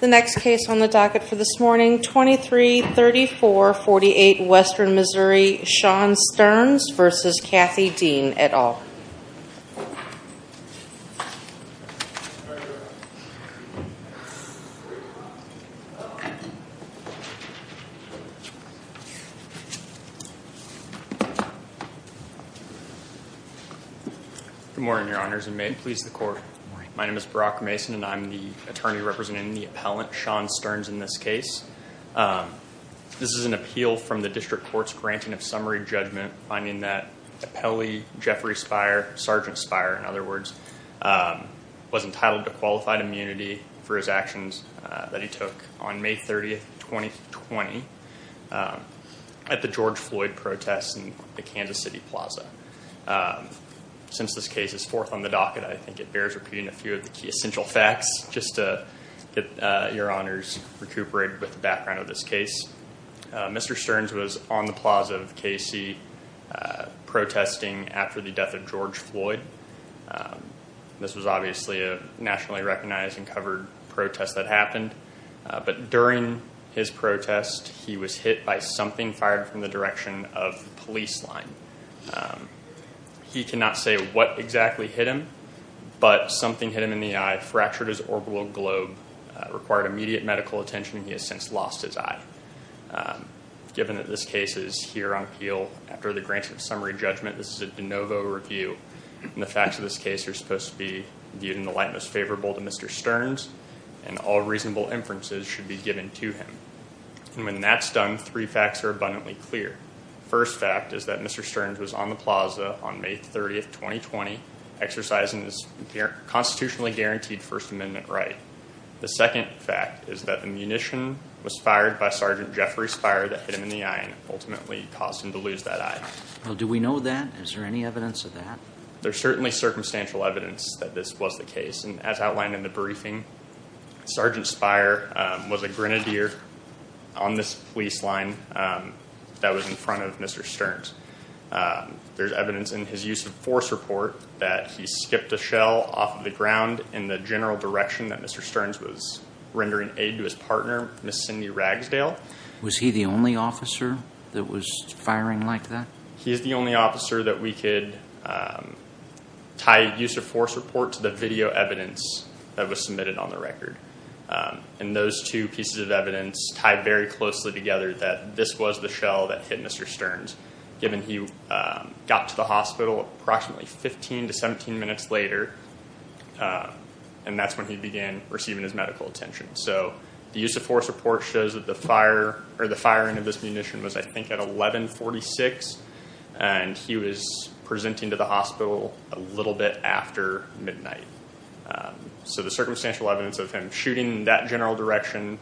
The next case on the docket for this morning, 233448 Western Missouri, Sean Stearns v. Cathy Dean et al. Good morning, your honors, and may it please the court. My name is Barack Mason, and I'm the attorney representing the appellant, Sean Stearns, in this case. This is an appeal from the district court's granting of summary judgment, finding that appellee Jeffrey Spire, Sergeant Spire, in other words, was entitled to qualified immunity for his actions that he took on May 30, 2020, at the George Floyd protests in the Kansas City Plaza. Since this case is fourth on the docket, I think it bears repeating a few of the key essential facts, just to get your honors recuperated with the background of this case. Mr. Stearns was on the plaza of KC protesting after the death of George Floyd. This was obviously a nationally recognized and covered protest that happened, but during his protest, he was hit by something fired from the direction of the police line. He cannot say what exactly hit him, but something hit him in the eye, fractured his orbital globe, required immediate medical attention, and he has since lost his eye. Given that this case is here on appeal after the granting of summary judgment, this is a de novo review, and the facts of this case are supposed to be viewed in the light most favorable to Mr. Stearns, and all reasonable inferences should be given to him. And when that's done, three facts are abundantly clear. First fact is that Mr. Stearns was on the plaza on May 30, 2020, exercising his constitutionally guaranteed First Amendment right. The second fact is that the munition was fired by Sergeant Jeffrey Spire that hit him in the eye and ultimately caused him to lose that eye. Do we know that? Is there any evidence of that? There's certainly circumstantial evidence that this was the case, and as outlined in the briefing, Sergeant Spire was a grenadier on this police line that was in front of Mr. Stearns. There's evidence in his use of force report that he skipped a shell off of the ground in the general direction that Mr. Stearns was rendering aid to his partner, Ms. Cindy Ragsdale. Was he the only officer that was firing like that? He's the only officer that we could tie use of force report to the video evidence that was submitted on the record. And those two pieces of evidence tie very closely together that this was the shell that hit Mr. Stearns, given he got to the hospital approximately 15 to 17 minutes later, and that's when he began receiving his medical attention. So the use of force report shows that the firing of this munition was, I think, at 11.46, and he was presenting to the hospital a little bit after midnight. So the circumstantial evidence of him shooting in that general direction,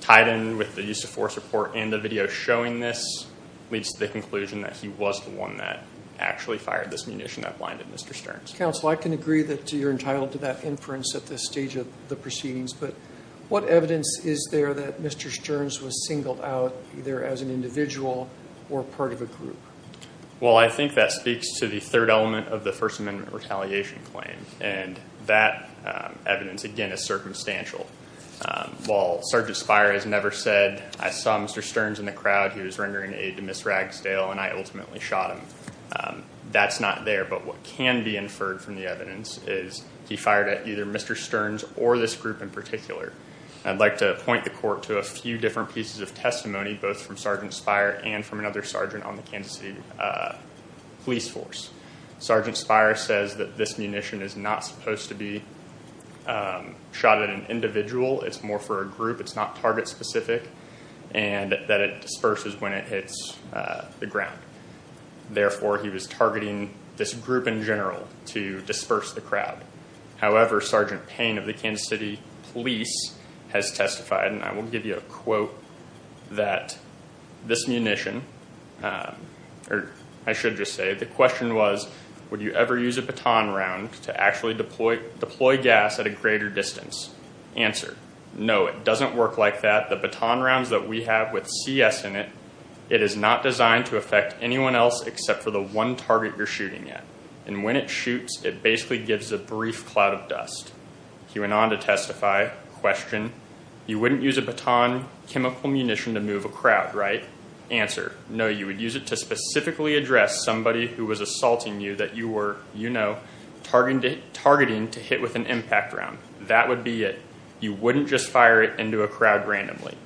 tied in with the use of force report and the video showing this, leads to the conclusion that he was the one that actually fired this munition that blinded Mr. Stearns. Mr. Counsel, I can agree that you're entitled to that inference at this stage of the proceedings, but what evidence is there that Mr. Stearns was singled out either as an individual or part of a group? Well, I think that speaks to the third element of the First Amendment retaliation claim, and that evidence, again, is circumstantial. While Sergeant Spire has never said, I saw Mr. Stearns in the crowd. He was rendering aid to Ms. Ragsdale, and I ultimately shot him. That's not there, but what can be inferred from the evidence is he fired at either Mr. Stearns or this group in particular. I'd like to point the court to a few different pieces of testimony, both from Sergeant Spire and from another sergeant on the Kansas City police force. Sergeant Spire says that this munition is not supposed to be shot at an individual. It's more for a group. It's not target-specific, and that it disperses when it hits the ground. Therefore, he was targeting this group in general to disperse the crowd. However, Sergeant Payne of the Kansas City police has testified, and I will give you a quote, that this munition, or I should just say, the question was, would you ever use a baton round to actually deploy gas at a greater distance? Answer, no, it doesn't work like that. The baton rounds that we have with CS in it, it is not designed to affect anyone else except for the one target you're shooting at. And when it shoots, it basically gives a brief cloud of dust. He went on to testify, question, you wouldn't use a baton chemical munition to move a crowd, right? Answer, no, you would use it to specifically address somebody who was assaulting you that you were, you know, targeting to hit with an impact round. That would be it. You wouldn't just fire it into a crowd randomly.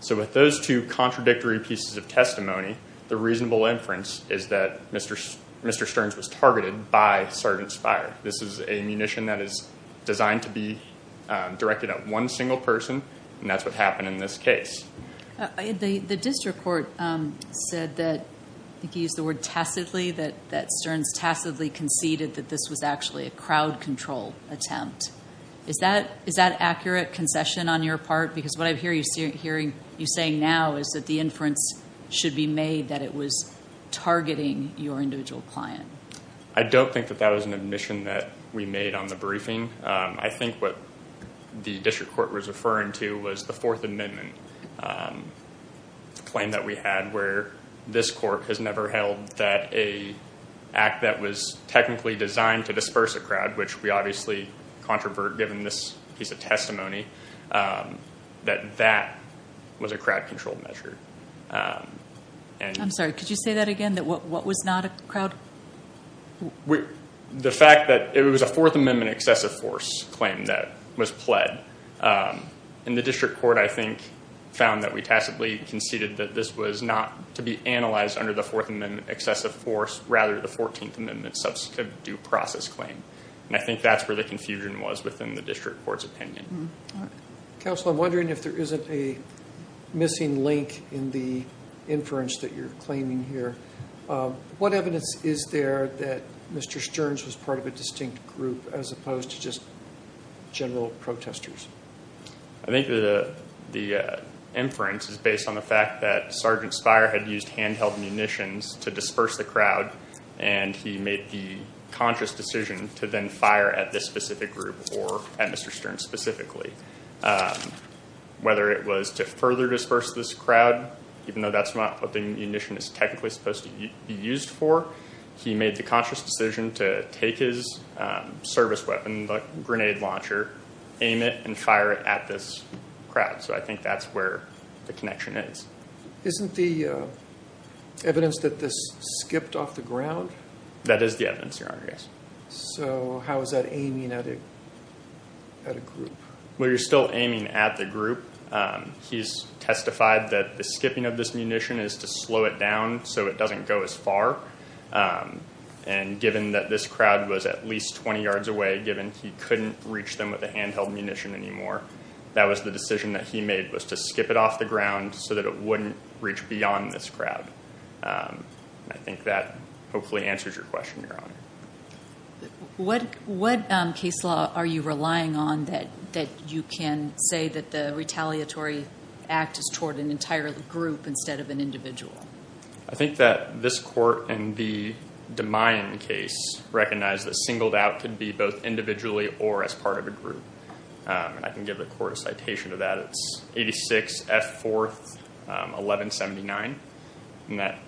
So with those two contradictory pieces of testimony, the reasonable inference is that Mr. Stearns was targeted by Sergeant's fire. This is a munition that is designed to be directed at one single person, and that's what happened in this case. The district court said that, I think you used the word tacitly, that Stearns tacitly conceded that this was actually a crowd control attempt. Is that accurate concession on your part? Because what I hear you saying now is that the inference should be made that it was targeting your individual client. I don't think that that was an admission that we made on the briefing. I think what the district court was referring to was the Fourth Amendment claim that we had, where this court has never held that an act that was technically designed to disperse a crowd, which we obviously controvert given this piece of testimony, that that was a crowd control measure. I'm sorry, could you say that again, that what was not a crowd? The fact that it was a Fourth Amendment excessive force claim that was pled. The district court, I think, found that we tacitly conceded that this was not to be analyzed under the Fourth Amendment excessive force, rather the Fourteenth Amendment substantive due process claim. I think that's where the confusion was within the district court's opinion. Counsel, I'm wondering if there isn't a missing link in the inference that you're claiming here. What evidence is there that Mr. Stearns was part of a distinct group as opposed to just general protesters? I think the inference is based on the fact that Sergeant Spire had used handheld munitions to disperse the crowd, and he made the conscious decision to then fire at this specific group or at Mr. Stearns specifically. Whether it was to further disperse this crowd, even though that's not what the munition is technically supposed to be used for, he made the conscious decision to take his service weapon, the grenade launcher, aim it, and fire it at this crowd. So I think that's where the connection is. Isn't the evidence that this skipped off the ground? That is the evidence, Your Honor, yes. So how is that aiming at a group? Well, you're still aiming at the group. He's testified that the skipping of this munition is to slow it down so it doesn't go as far, and given that this crowd was at least 20 yards away, given he couldn't reach them with a handheld munition anymore, that was the decision that he made was to skip it off the ground so that it wouldn't reach beyond this crowd. I think that hopefully answers your question, Your Honor. What case law are you relying on that you can say that the retaliatory act is toward an entire group instead of an individual? I think that this court in the DeMayan case recognized that singled out could be both individually or as part of a group. I can give the court a citation of that. It's 86 F. 4th, 1179, and that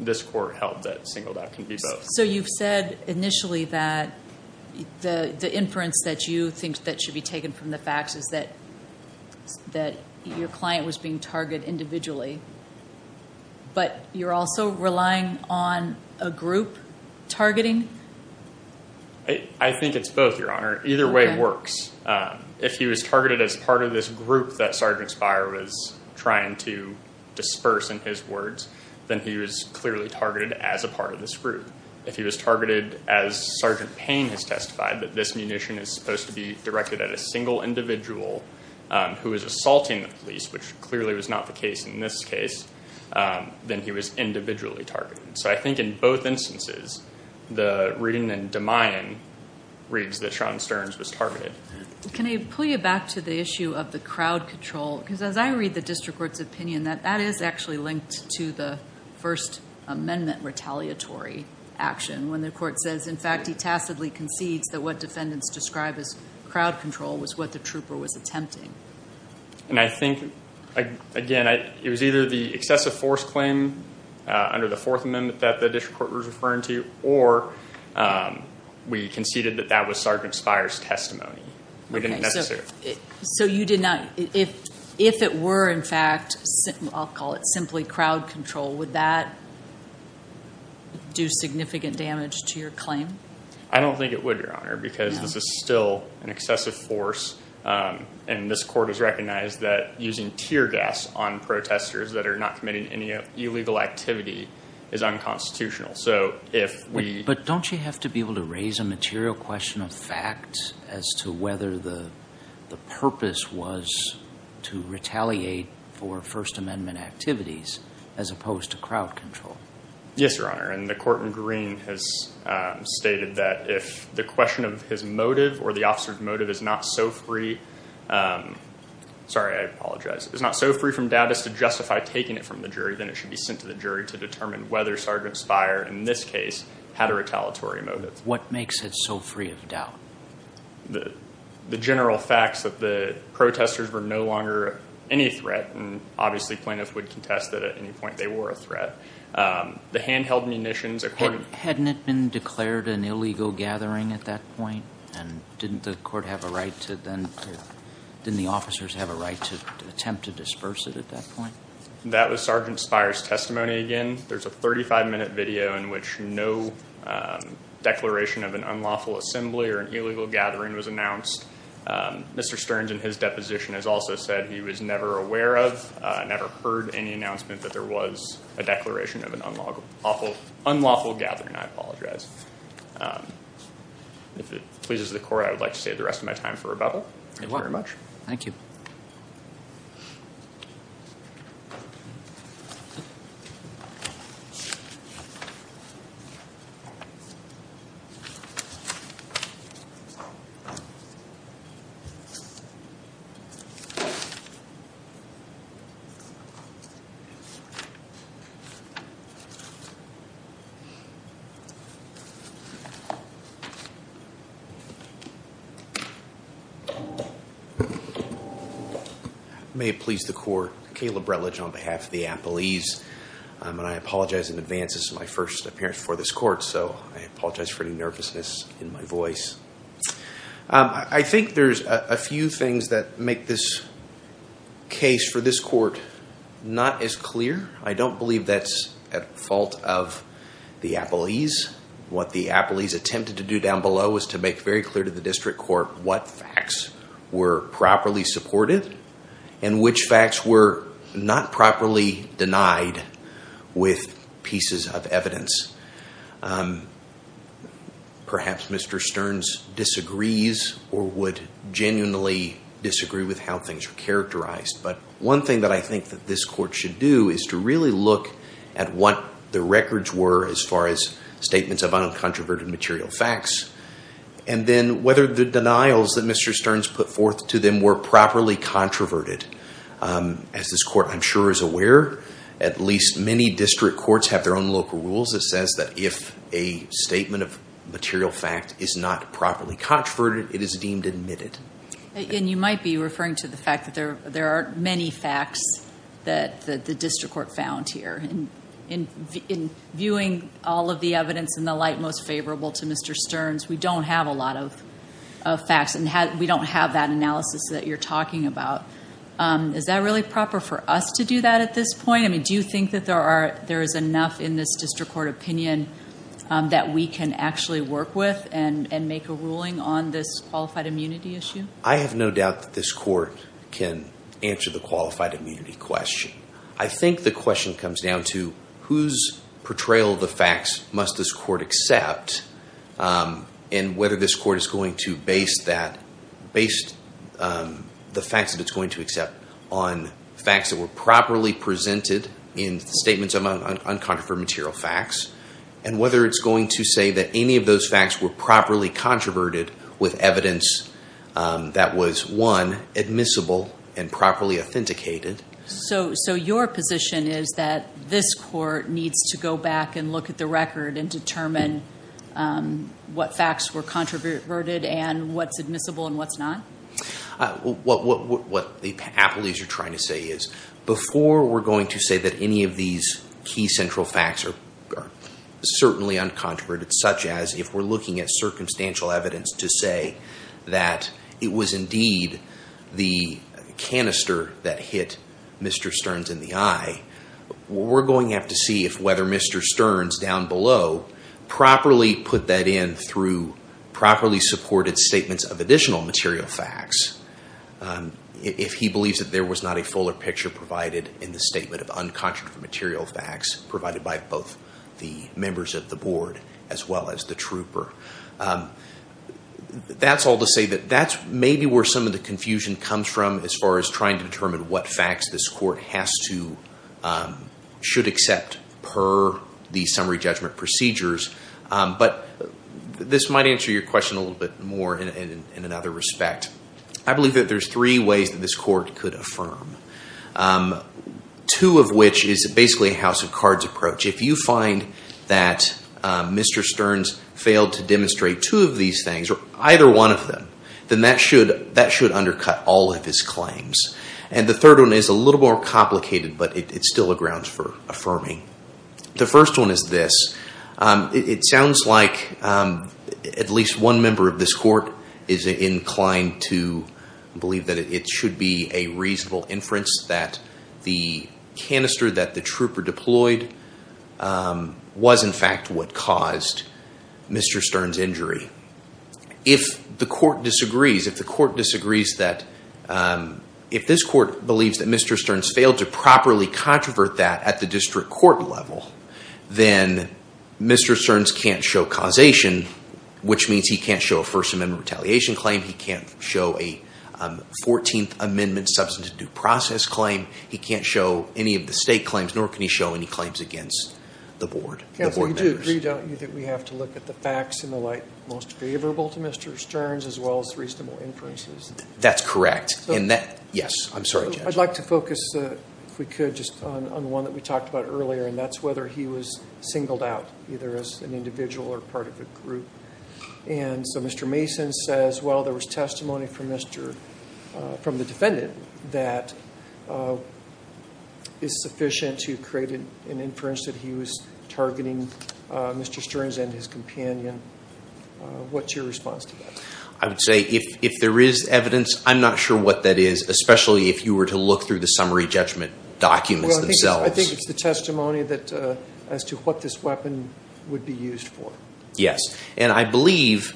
this court held that singled out can be both. So you've said initially that the inference that you think that should be taken from the facts is that your client was being targeted individually, but you're also relying on a group targeting? I think it's both, Your Honor. Either way works. If he was targeted as part of this group that Sergeant Spire was trying to disperse in his words, then he was clearly targeted as a part of this group. If he was targeted as Sergeant Payne has testified, that this munition is supposed to be directed at a single individual who is assaulting the police, which clearly was not the case in this case, then he was individually targeted. So I think in both instances, the reading in DeMayan reads that Sean Stearns was targeted. Can I pull you back to the issue of the crowd control? Because as I read the district court's opinion, that is actually linked to the First Amendment retaliatory action when the court says, in fact, he tacitly concedes that what defendants describe as crowd control was what the trooper was attempting. And I think, again, it was either the excessive force claim under the Fourth Amendment that the district court was referring to, or we conceded that that was Sergeant Spire's testimony. So you did not—if it were, in fact, I'll call it simply crowd control, would that do significant damage to your claim? I don't think it would, Your Honor, because this is still an excessive force, and this court has recognized that using tear gas on protesters that are not committing any illegal activity is unconstitutional. But don't you have to be able to raise a material question of fact as to whether the purpose was to retaliate for First Amendment activities as opposed to crowd control? Yes, Your Honor, and the court in Green has stated that if the question of his motive or the officer's motive is not so free—sorry, I apologize— is not so free from doubt as to justify taking it from the jury, then it should be sent to the jury to determine whether Sergeant Spire, in this case, had a retaliatory motive. What makes it so free of doubt? The general facts that the protesters were no longer any threat, and obviously plaintiffs would contest that at any point they were a threat. The handheld munitions, according to— Hadn't it been declared an illegal gathering at that point? And didn't the court have a right to then— didn't the officers have a right to attempt to disperse it at that point? That was Sergeant Spire's testimony again. There's a 35-minute video in which no declaration of an unlawful assembly or an illegal gathering was announced. Mr. Stearns, in his deposition, has also said he was never aware of, never heard any announcement that there was a declaration of an unlawful gathering. I apologize. If it pleases the court, I would like to save the rest of my time for rebuttal. Thank you very much. Thank you. May it please the court. Caleb Rutledge on behalf of the Appalese. And I apologize in advance. This is my first appearance before this court, so I apologize for any nervousness in my voice. I think there's a few things that make this case for this court not as clear. I don't believe that's at fault of the Appalese. What the Appalese attempted to do down below was to make very clear to the district court what facts were properly supported and which facts were not properly denied with pieces of evidence. Perhaps Mr. Stearns disagrees or would genuinely disagree with how things are characterized. But one thing that I think that this court should do is to really look at what the records were as far as statements of uncontroverted material facts and then whether the denials that Mr. Stearns put forth to them were properly controverted. As this court, I'm sure, is aware, at least many district courts have their own local rules that says that if a statement of material fact is not properly controverted, it is deemed admitted. And you might be referring to the fact that there are many facts that the district court found here. In viewing all of the evidence in the light most favorable to Mr. Stearns, we don't have a lot of facts and we don't have that analysis that you're talking about. Is that really proper for us to do that at this point? I mean, do you think that there is enough in this district court opinion that we can actually work with and make a ruling on this qualified immunity issue? I have no doubt that this court can answer the qualified immunity question. I think the question comes down to whose portrayal of the facts must this court accept and whether this court is going to base the facts that it's going to accept on facts that were properly presented in statements of uncontroverted material facts, and whether it's going to say that any of those facts were properly controverted with evidence that was, one, admissible and properly authenticated. So your position is that this court needs to go back and look at the record and determine what facts were controverted and what's admissible and what's not? What the appellees are trying to say is, before we're going to say that any of these key central facts are certainly uncontroverted, such as if we're looking at circumstantial evidence to say that it was indeed the canister that hit Mr. Stearns in the eye, we're going to have to see if whether Mr. Stearns, down below, properly put that in through properly supported statements of additional material facts, if he believes that there was not a fuller picture provided in the statement of uncontroverted material facts provided by both the members of the board as well as the trooper. That's all to say that that's maybe where some of the confusion comes from as far as trying to determine what facts this court has to, should accept per the summary judgment procedures. But this might answer your question a little bit more in another respect. I believe that there's three ways that this court could affirm, two of which is basically a house of cards approach. If you find that Mr. Stearns failed to demonstrate two of these things, or either one of them, then that should undercut all of his claims. And the third one is a little more complicated, but it's still a grounds for affirming. The first one is this. It sounds like at least one member of this court is inclined to believe that it should be a reasonable inference that the canister that the trooper deployed was in fact what caused Mr. Stearns' injury. If the court disagrees, if the court disagrees that, if this court believes that Mr. Stearns failed to properly controvert that at the district court level, then Mr. Stearns can't show causation, which means he can't show a First Amendment retaliation claim. He can't show a 14th Amendment substantive due process claim. He can't show any of the state claims, nor can he show any claims against the board. You do agree, don't you, that we have to look at the facts in the light most favorable to Mr. Stearns, as well as reasonable inferences? That's correct. Yes. I'm sorry, Judge. I'd like to focus, if we could, just on one that we talked about earlier, and that's whether he was singled out, either as an individual or part of a group. And so Mr. Mason says, well, there was testimony from the defendant that is sufficient to create an inference that he was targeting Mr. Stearns and his companion. What's your response to that? I would say if there is evidence, I'm not sure what that is, especially if you were to look through the summary judgment documents themselves. Well, I think it's the testimony as to what this weapon would be used for. Yes. And I believe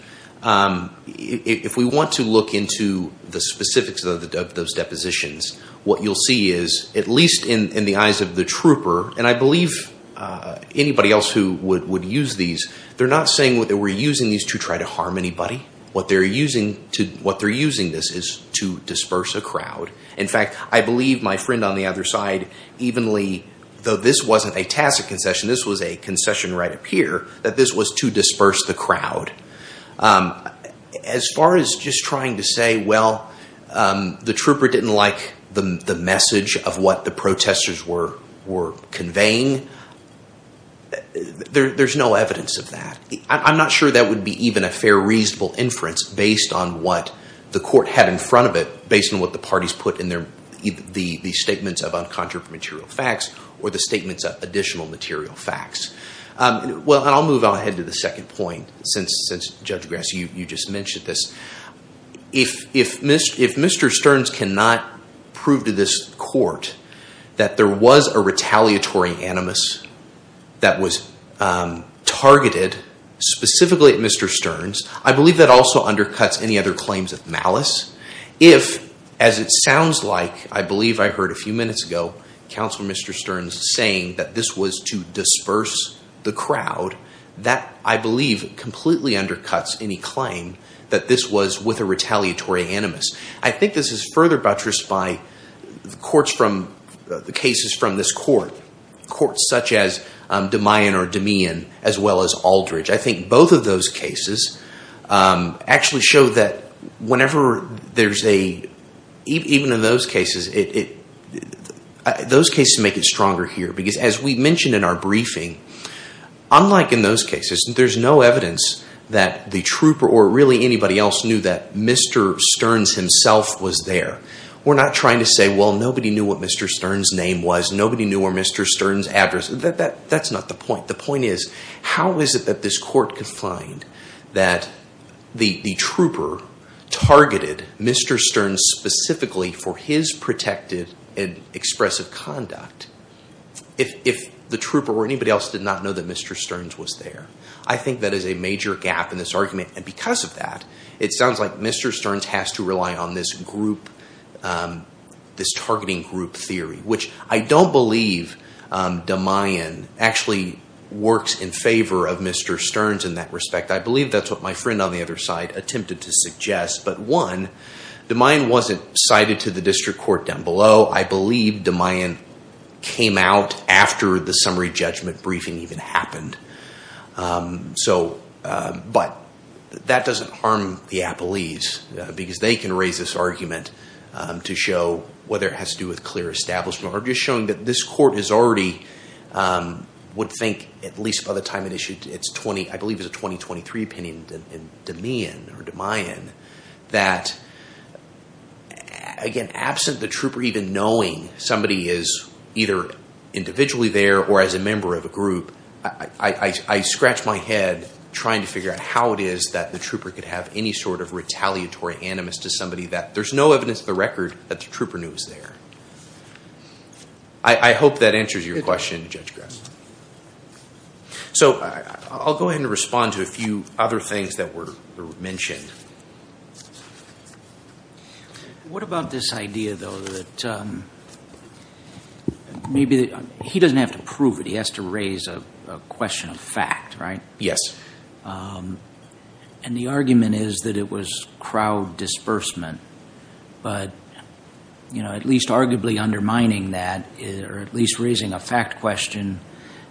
if we want to look into the specifics of those depositions, what you'll see is, at least in the eyes of the trooper, and I believe anybody else who would use these, they're not saying that they were using these to try to harm anybody. What they're using this is to disperse a crowd. In fact, I believe my friend on the other side evenly, though this wasn't a tacit concession, this was a concession right up here, that this was to disperse the crowd. As far as just trying to say, well, the trooper didn't like the message of what the protesters were conveying, there's no evidence of that. I'm not sure that would be even a fair, reasonable inference based on what the court had in front of it, based on what the parties put in the statements of uncontroversial material facts or the statements of additional material facts. Well, and I'll move on ahead to the second point, since Judge Grass, you just mentioned this. If Mr. Stearns cannot prove to this court that there was a retaliatory animus that was targeted specifically at Mr. Stearns, I believe that also undercuts any other claims of malice. If, as it sounds like, I believe I heard a few minutes ago, counsel Mr. Stearns saying that this was to disperse the crowd, that, I believe, completely undercuts any claim that this was with a retaliatory animus. I think this is further buttressed by the cases from this court, courts such as DeMayan or DeMean, as well as Aldridge. I think both of those cases actually show that whenever there's a, even in those cases, those cases make it stronger here, because as we mentioned in our briefing, unlike in those cases, there's no evidence that the trooper or really anybody else knew that Mr. Stearns himself was there. We're not trying to say, well, nobody knew what Mr. Stearns' name was, nobody knew where Mr. Stearns' address, that's not the point. The point is, how is it that this court can find that the trooper targeted Mr. Stearns specifically for his protected and expressive conduct if the trooper or anybody else did not know that Mr. Stearns was there? I think that is a major gap in this argument, and because of that, it sounds like Mr. Stearns has to rely on this group, this targeting group theory, which I don't believe DeMayan actually works in favor of Mr. Stearns in that respect. I believe that's what my friend on the other side attempted to suggest, but one, DeMayan wasn't cited to the district court down below. I believe DeMayan came out after the summary judgment briefing even happened. So, but that doesn't harm the appellees, because they can raise this argument to show whether it has to do with clear establishment, or just showing that this court is already, would think, at least by the time it issued its 20, I believe it was a 2023 opinion, DeMayan or DeMayan, that, again, absent the trooper even knowing somebody is either individually there or as a member of a group, I scratch my head trying to figure out how it is that the trooper could have any sort of retaliatory animus to somebody that there's no evidence of the record that the trooper knew was there. I hope that answers your question, Judge Grassley. So I'll go ahead and respond to a few other things that were mentioned. What about this idea, though, that maybe he doesn't have to prove it, he has to raise a question of fact, right? Yes. And the argument is that it was crowd disbursement, but at least arguably undermining that, or at least raising a fact question,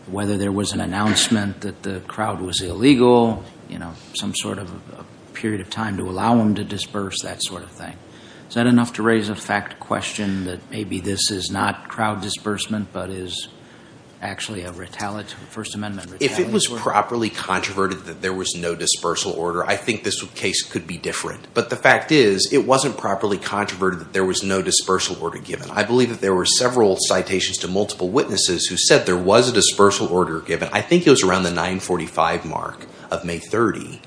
whether there was an announcement that the crowd was illegal, some sort of period of time to allow them to disperse, that sort of thing. Is that enough to raise a fact question that maybe this is not crowd disbursement but is actually a retaliatory, First Amendment retaliatory? If it was properly controverted that there was no dispersal order, I think this case could be different. But the fact is it wasn't properly controverted that there was no dispersal order given. I believe that there were several citations to multiple witnesses who said there was a dispersal order given. I think it was around the 945 mark of May 30.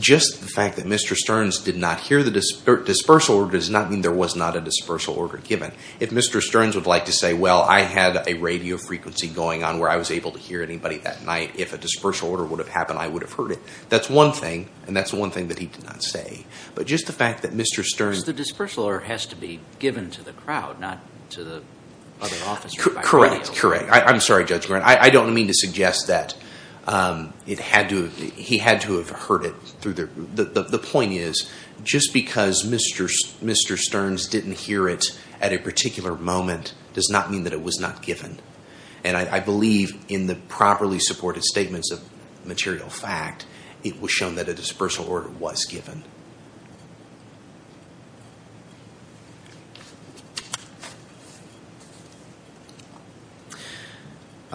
Just the fact that Mr. Stearns did not hear the dispersal order does not mean there was not a dispersal order given. If Mr. Stearns would like to say, well, I had a radio frequency going on where I was able to hear anybody that night, if a dispersal order would have happened, I would have heard it. That's one thing, and that's one thing that he did not say. But just the fact that Mr. Stearns... So the dispersal order has to be given to the crowd, not to the other officers. Correct, correct. I'm sorry, Judge Warren. I don't mean to suggest that he had to have heard it. The point is just because Mr. Stearns didn't hear it at a particular moment does not mean that it was not given. And I believe in the properly supported statements of material fact, it was shown that a dispersal order was given.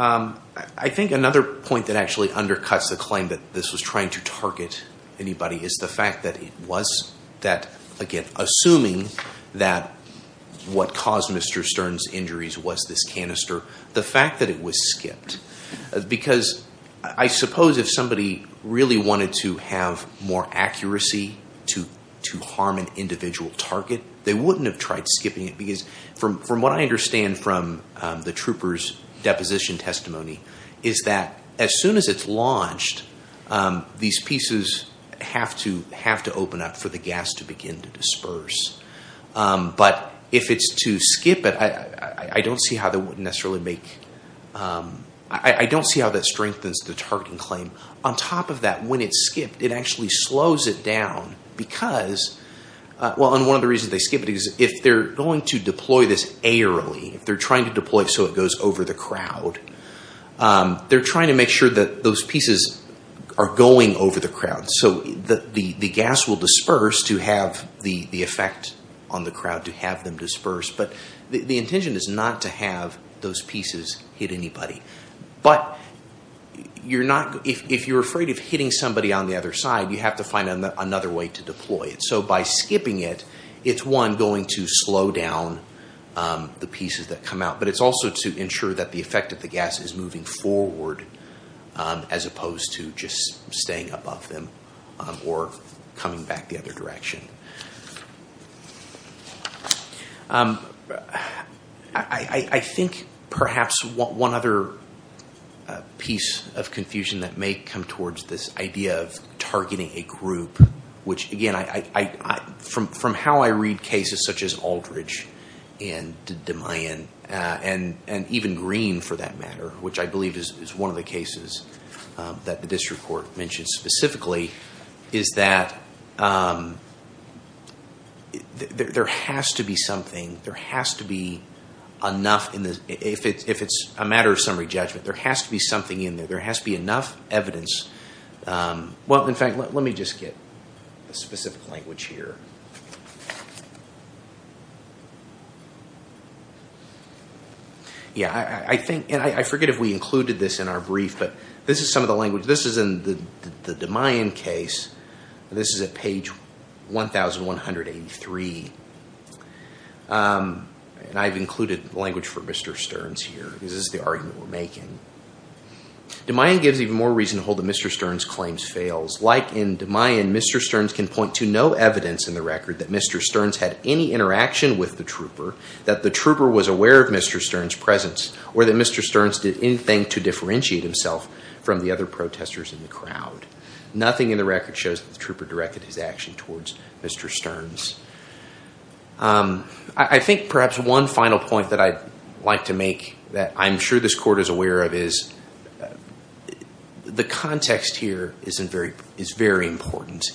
I think another point that actually undercuts the claim that this was trying to target anybody is the fact that it was. Again, assuming that what caused Mr. Stearns' injuries was this canister, the fact that it was skipped. Because I suppose if somebody really wanted to have more accuracy to harm an individual target, they wouldn't have tried skipping it. Because from what I understand from the trooper's deposition testimony is that as soon as it's launched, these pieces have to open up for the gas to begin to disperse. But if it's to skip it, I don't see how that strengthens the targeting claim. On top of that, when it's skipped, it actually slows it down. One of the reasons they skip it is if they're going to deploy this airily, if they're trying to deploy it so it goes over the crowd, they're trying to make sure that those pieces are going over the crowd. So the gas will disperse to have the effect on the crowd to have them disperse. But the intention is not to have those pieces hit anybody. But if you're afraid of hitting somebody on the other side, you have to find another way to deploy it. So by skipping it, it's, one, going to slow down the pieces that come out. But it's also to ensure that the effect of the gas is moving forward as opposed to just staying above them or coming back the other direction. I think perhaps one other piece of confusion that may come towards this idea of targeting a group, which, again, from how I read cases such as Aldridge and DeMayan, and even Green, for that matter, which I believe is one of the cases that this report mentions specifically, is that there has to be something, there has to be enough, if it's a matter of summary judgment, there has to be something in there. There has to be enough evidence. Well, in fact, let me just get a specific language here. Yeah, I think, and I forget if we included this in our brief, but this is some of the language. This is in the DeMayan case. This is at page 1183. And I've included language for Mr. Stearns here. This is the argument we're making. DeMayan gives even more reason to hold that Mr. Stearns' claims fails. Like in DeMayan, Mr. Stearns can point to no evidence in the record that Mr. Stearns had any interaction with the trooper, that the trooper was aware of Mr. Stearns' presence, or that Mr. Stearns did anything to differentiate himself from the other protesters in the crowd. Nothing in the record shows that the trooper directed his action towards Mr. Stearns. I think perhaps one final point that I'd like to make, that I'm sure this Court is aware of, is the context here is very important.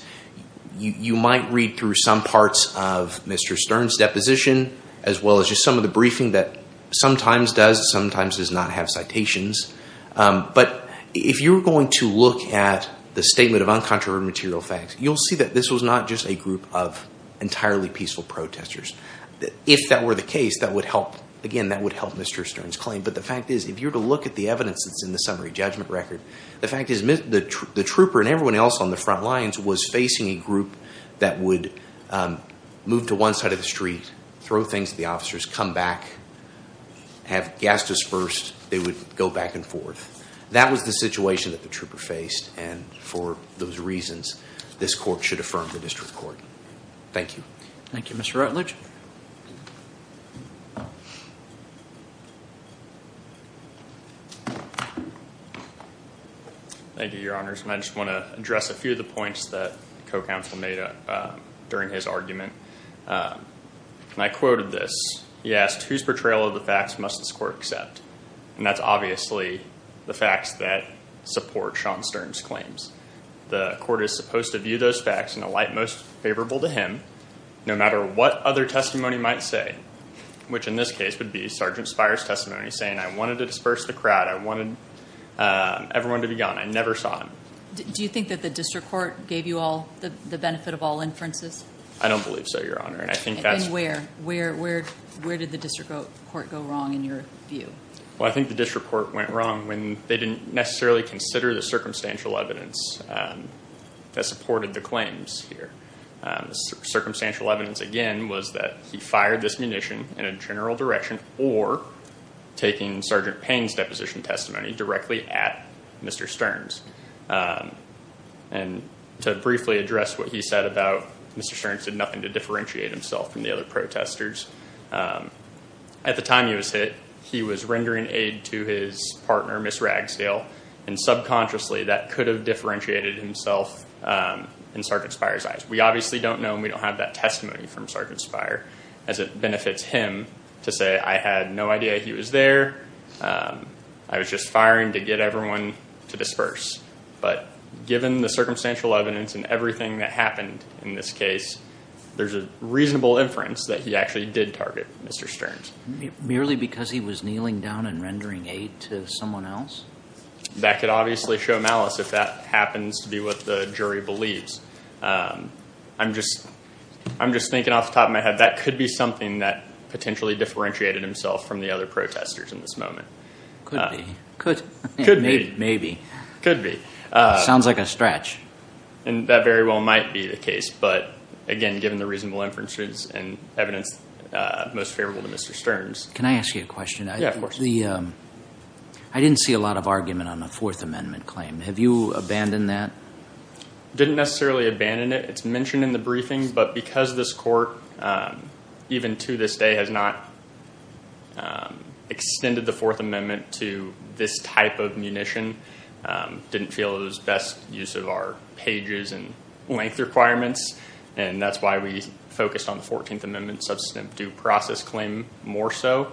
You might read through some parts of Mr. Stearns' deposition, as well as just some of the briefing that sometimes does, sometimes does not have citations. But if you're going to look at the statement of uncontroverted material facts, you'll see that this was not just a group of entirely peaceful protesters. If that were the case, that would help. Again, that would help Mr. Stearns' claim. But the fact is, if you were to look at the evidence that's in the summary judgment record, the fact is the trooper and everyone else on the front lines was facing a group that would move to one side of the street, throw things at the officers, come back, have gas dispersed. They would go back and forth. That was the situation that the trooper faced. And for those reasons, this Court should affirm the District Court. Thank you. Thank you, Mr. Rutledge. Thank you, Your Honors. And I just want to address a few of the points that co-counsel made during his argument. And I quoted this. He asked, whose portrayal of the facts must this Court accept? And that's obviously the facts that support Sean Stearns' claims. The Court is supposed to view those facts in a light most favorable to him, no matter what other testimony might say, which in this case would be Sergeant Spire's testimony saying, I wanted to disperse the crowd. I wanted everyone to be gone. I never saw him. Do you think that the District Court gave you the benefit of all inferences? I don't believe so, Your Honor. And where? Where did the District Court go wrong in your view? Well, I think the District Court went wrong when they didn't necessarily consider the circumstantial evidence that supported the claims here. Circumstantial evidence, again, was that he fired this munition in a general direction or taking Sergeant Payne's deposition testimony directly at Mr. Stearns. And to briefly address what he said about Mr. Stearns did nothing to differentiate himself from the other protesters, at the time he was hit, he was rendering aid to his partner, Ms. Ragsdale, and subconsciously that could have differentiated himself in Sergeant Spire's eyes. We obviously don't know, and we don't have that testimony from Sergeant Spire, as it benefits him to say, I had no idea he was there. I was just firing to get everyone to disperse. But given the circumstantial evidence and everything that happened in this case, there's a reasonable inference that he actually did target Mr. Stearns. Merely because he was kneeling down and rendering aid to someone else? That could obviously show malice if that happens to be what the jury believes. I'm just thinking off the top of my head that could be something that potentially differentiated himself from the other protesters in this moment. Could be. Could be. Maybe. Could be. Sounds like a stretch. And that very well might be the case, but, again, given the reasonable inferences and evidence most favorable to Mr. Stearns. Can I ask you a question? Yeah, of course. I didn't see a lot of argument on the Fourth Amendment claim. Have you abandoned that? Didn't necessarily abandon it. It's mentioned in the briefing, but because this court, even to this day, has not extended the Fourth Amendment to this type of munition, didn't feel it was best use of our pages and length requirements, and that's why we focused on the Fourteenth Amendment substantive due process claim more so.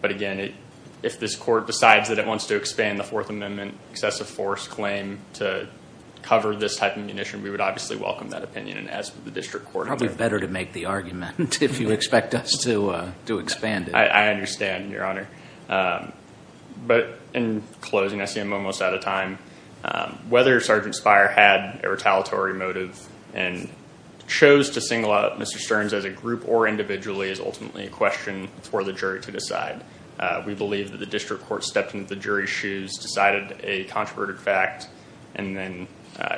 But, again, if this court decides that it wants to expand the Fourth Amendment excessive force claim to cover this type of munition, we would obviously welcome that opinion. And as for the district court... Probably better to make the argument if you expect us to expand it. I understand, Your Honor. But in closing, I see I'm almost out of time. Whether Sergeant Spire had a retaliatory motive and chose to single out Mr. Stearns as a group or individually is ultimately a question for the jury to decide. We believe that the district court stepped into the jury's shoes, decided a controverted fact, and then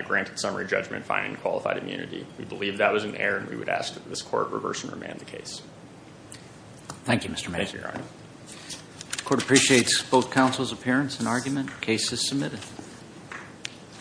granted summary judgment finding qualified immunity. We believe that was an error, and we would ask that this court reverse and remand the case. Thank you, Mr. Mason. The court appreciates both counsel's appearance and argument. The case is submitted.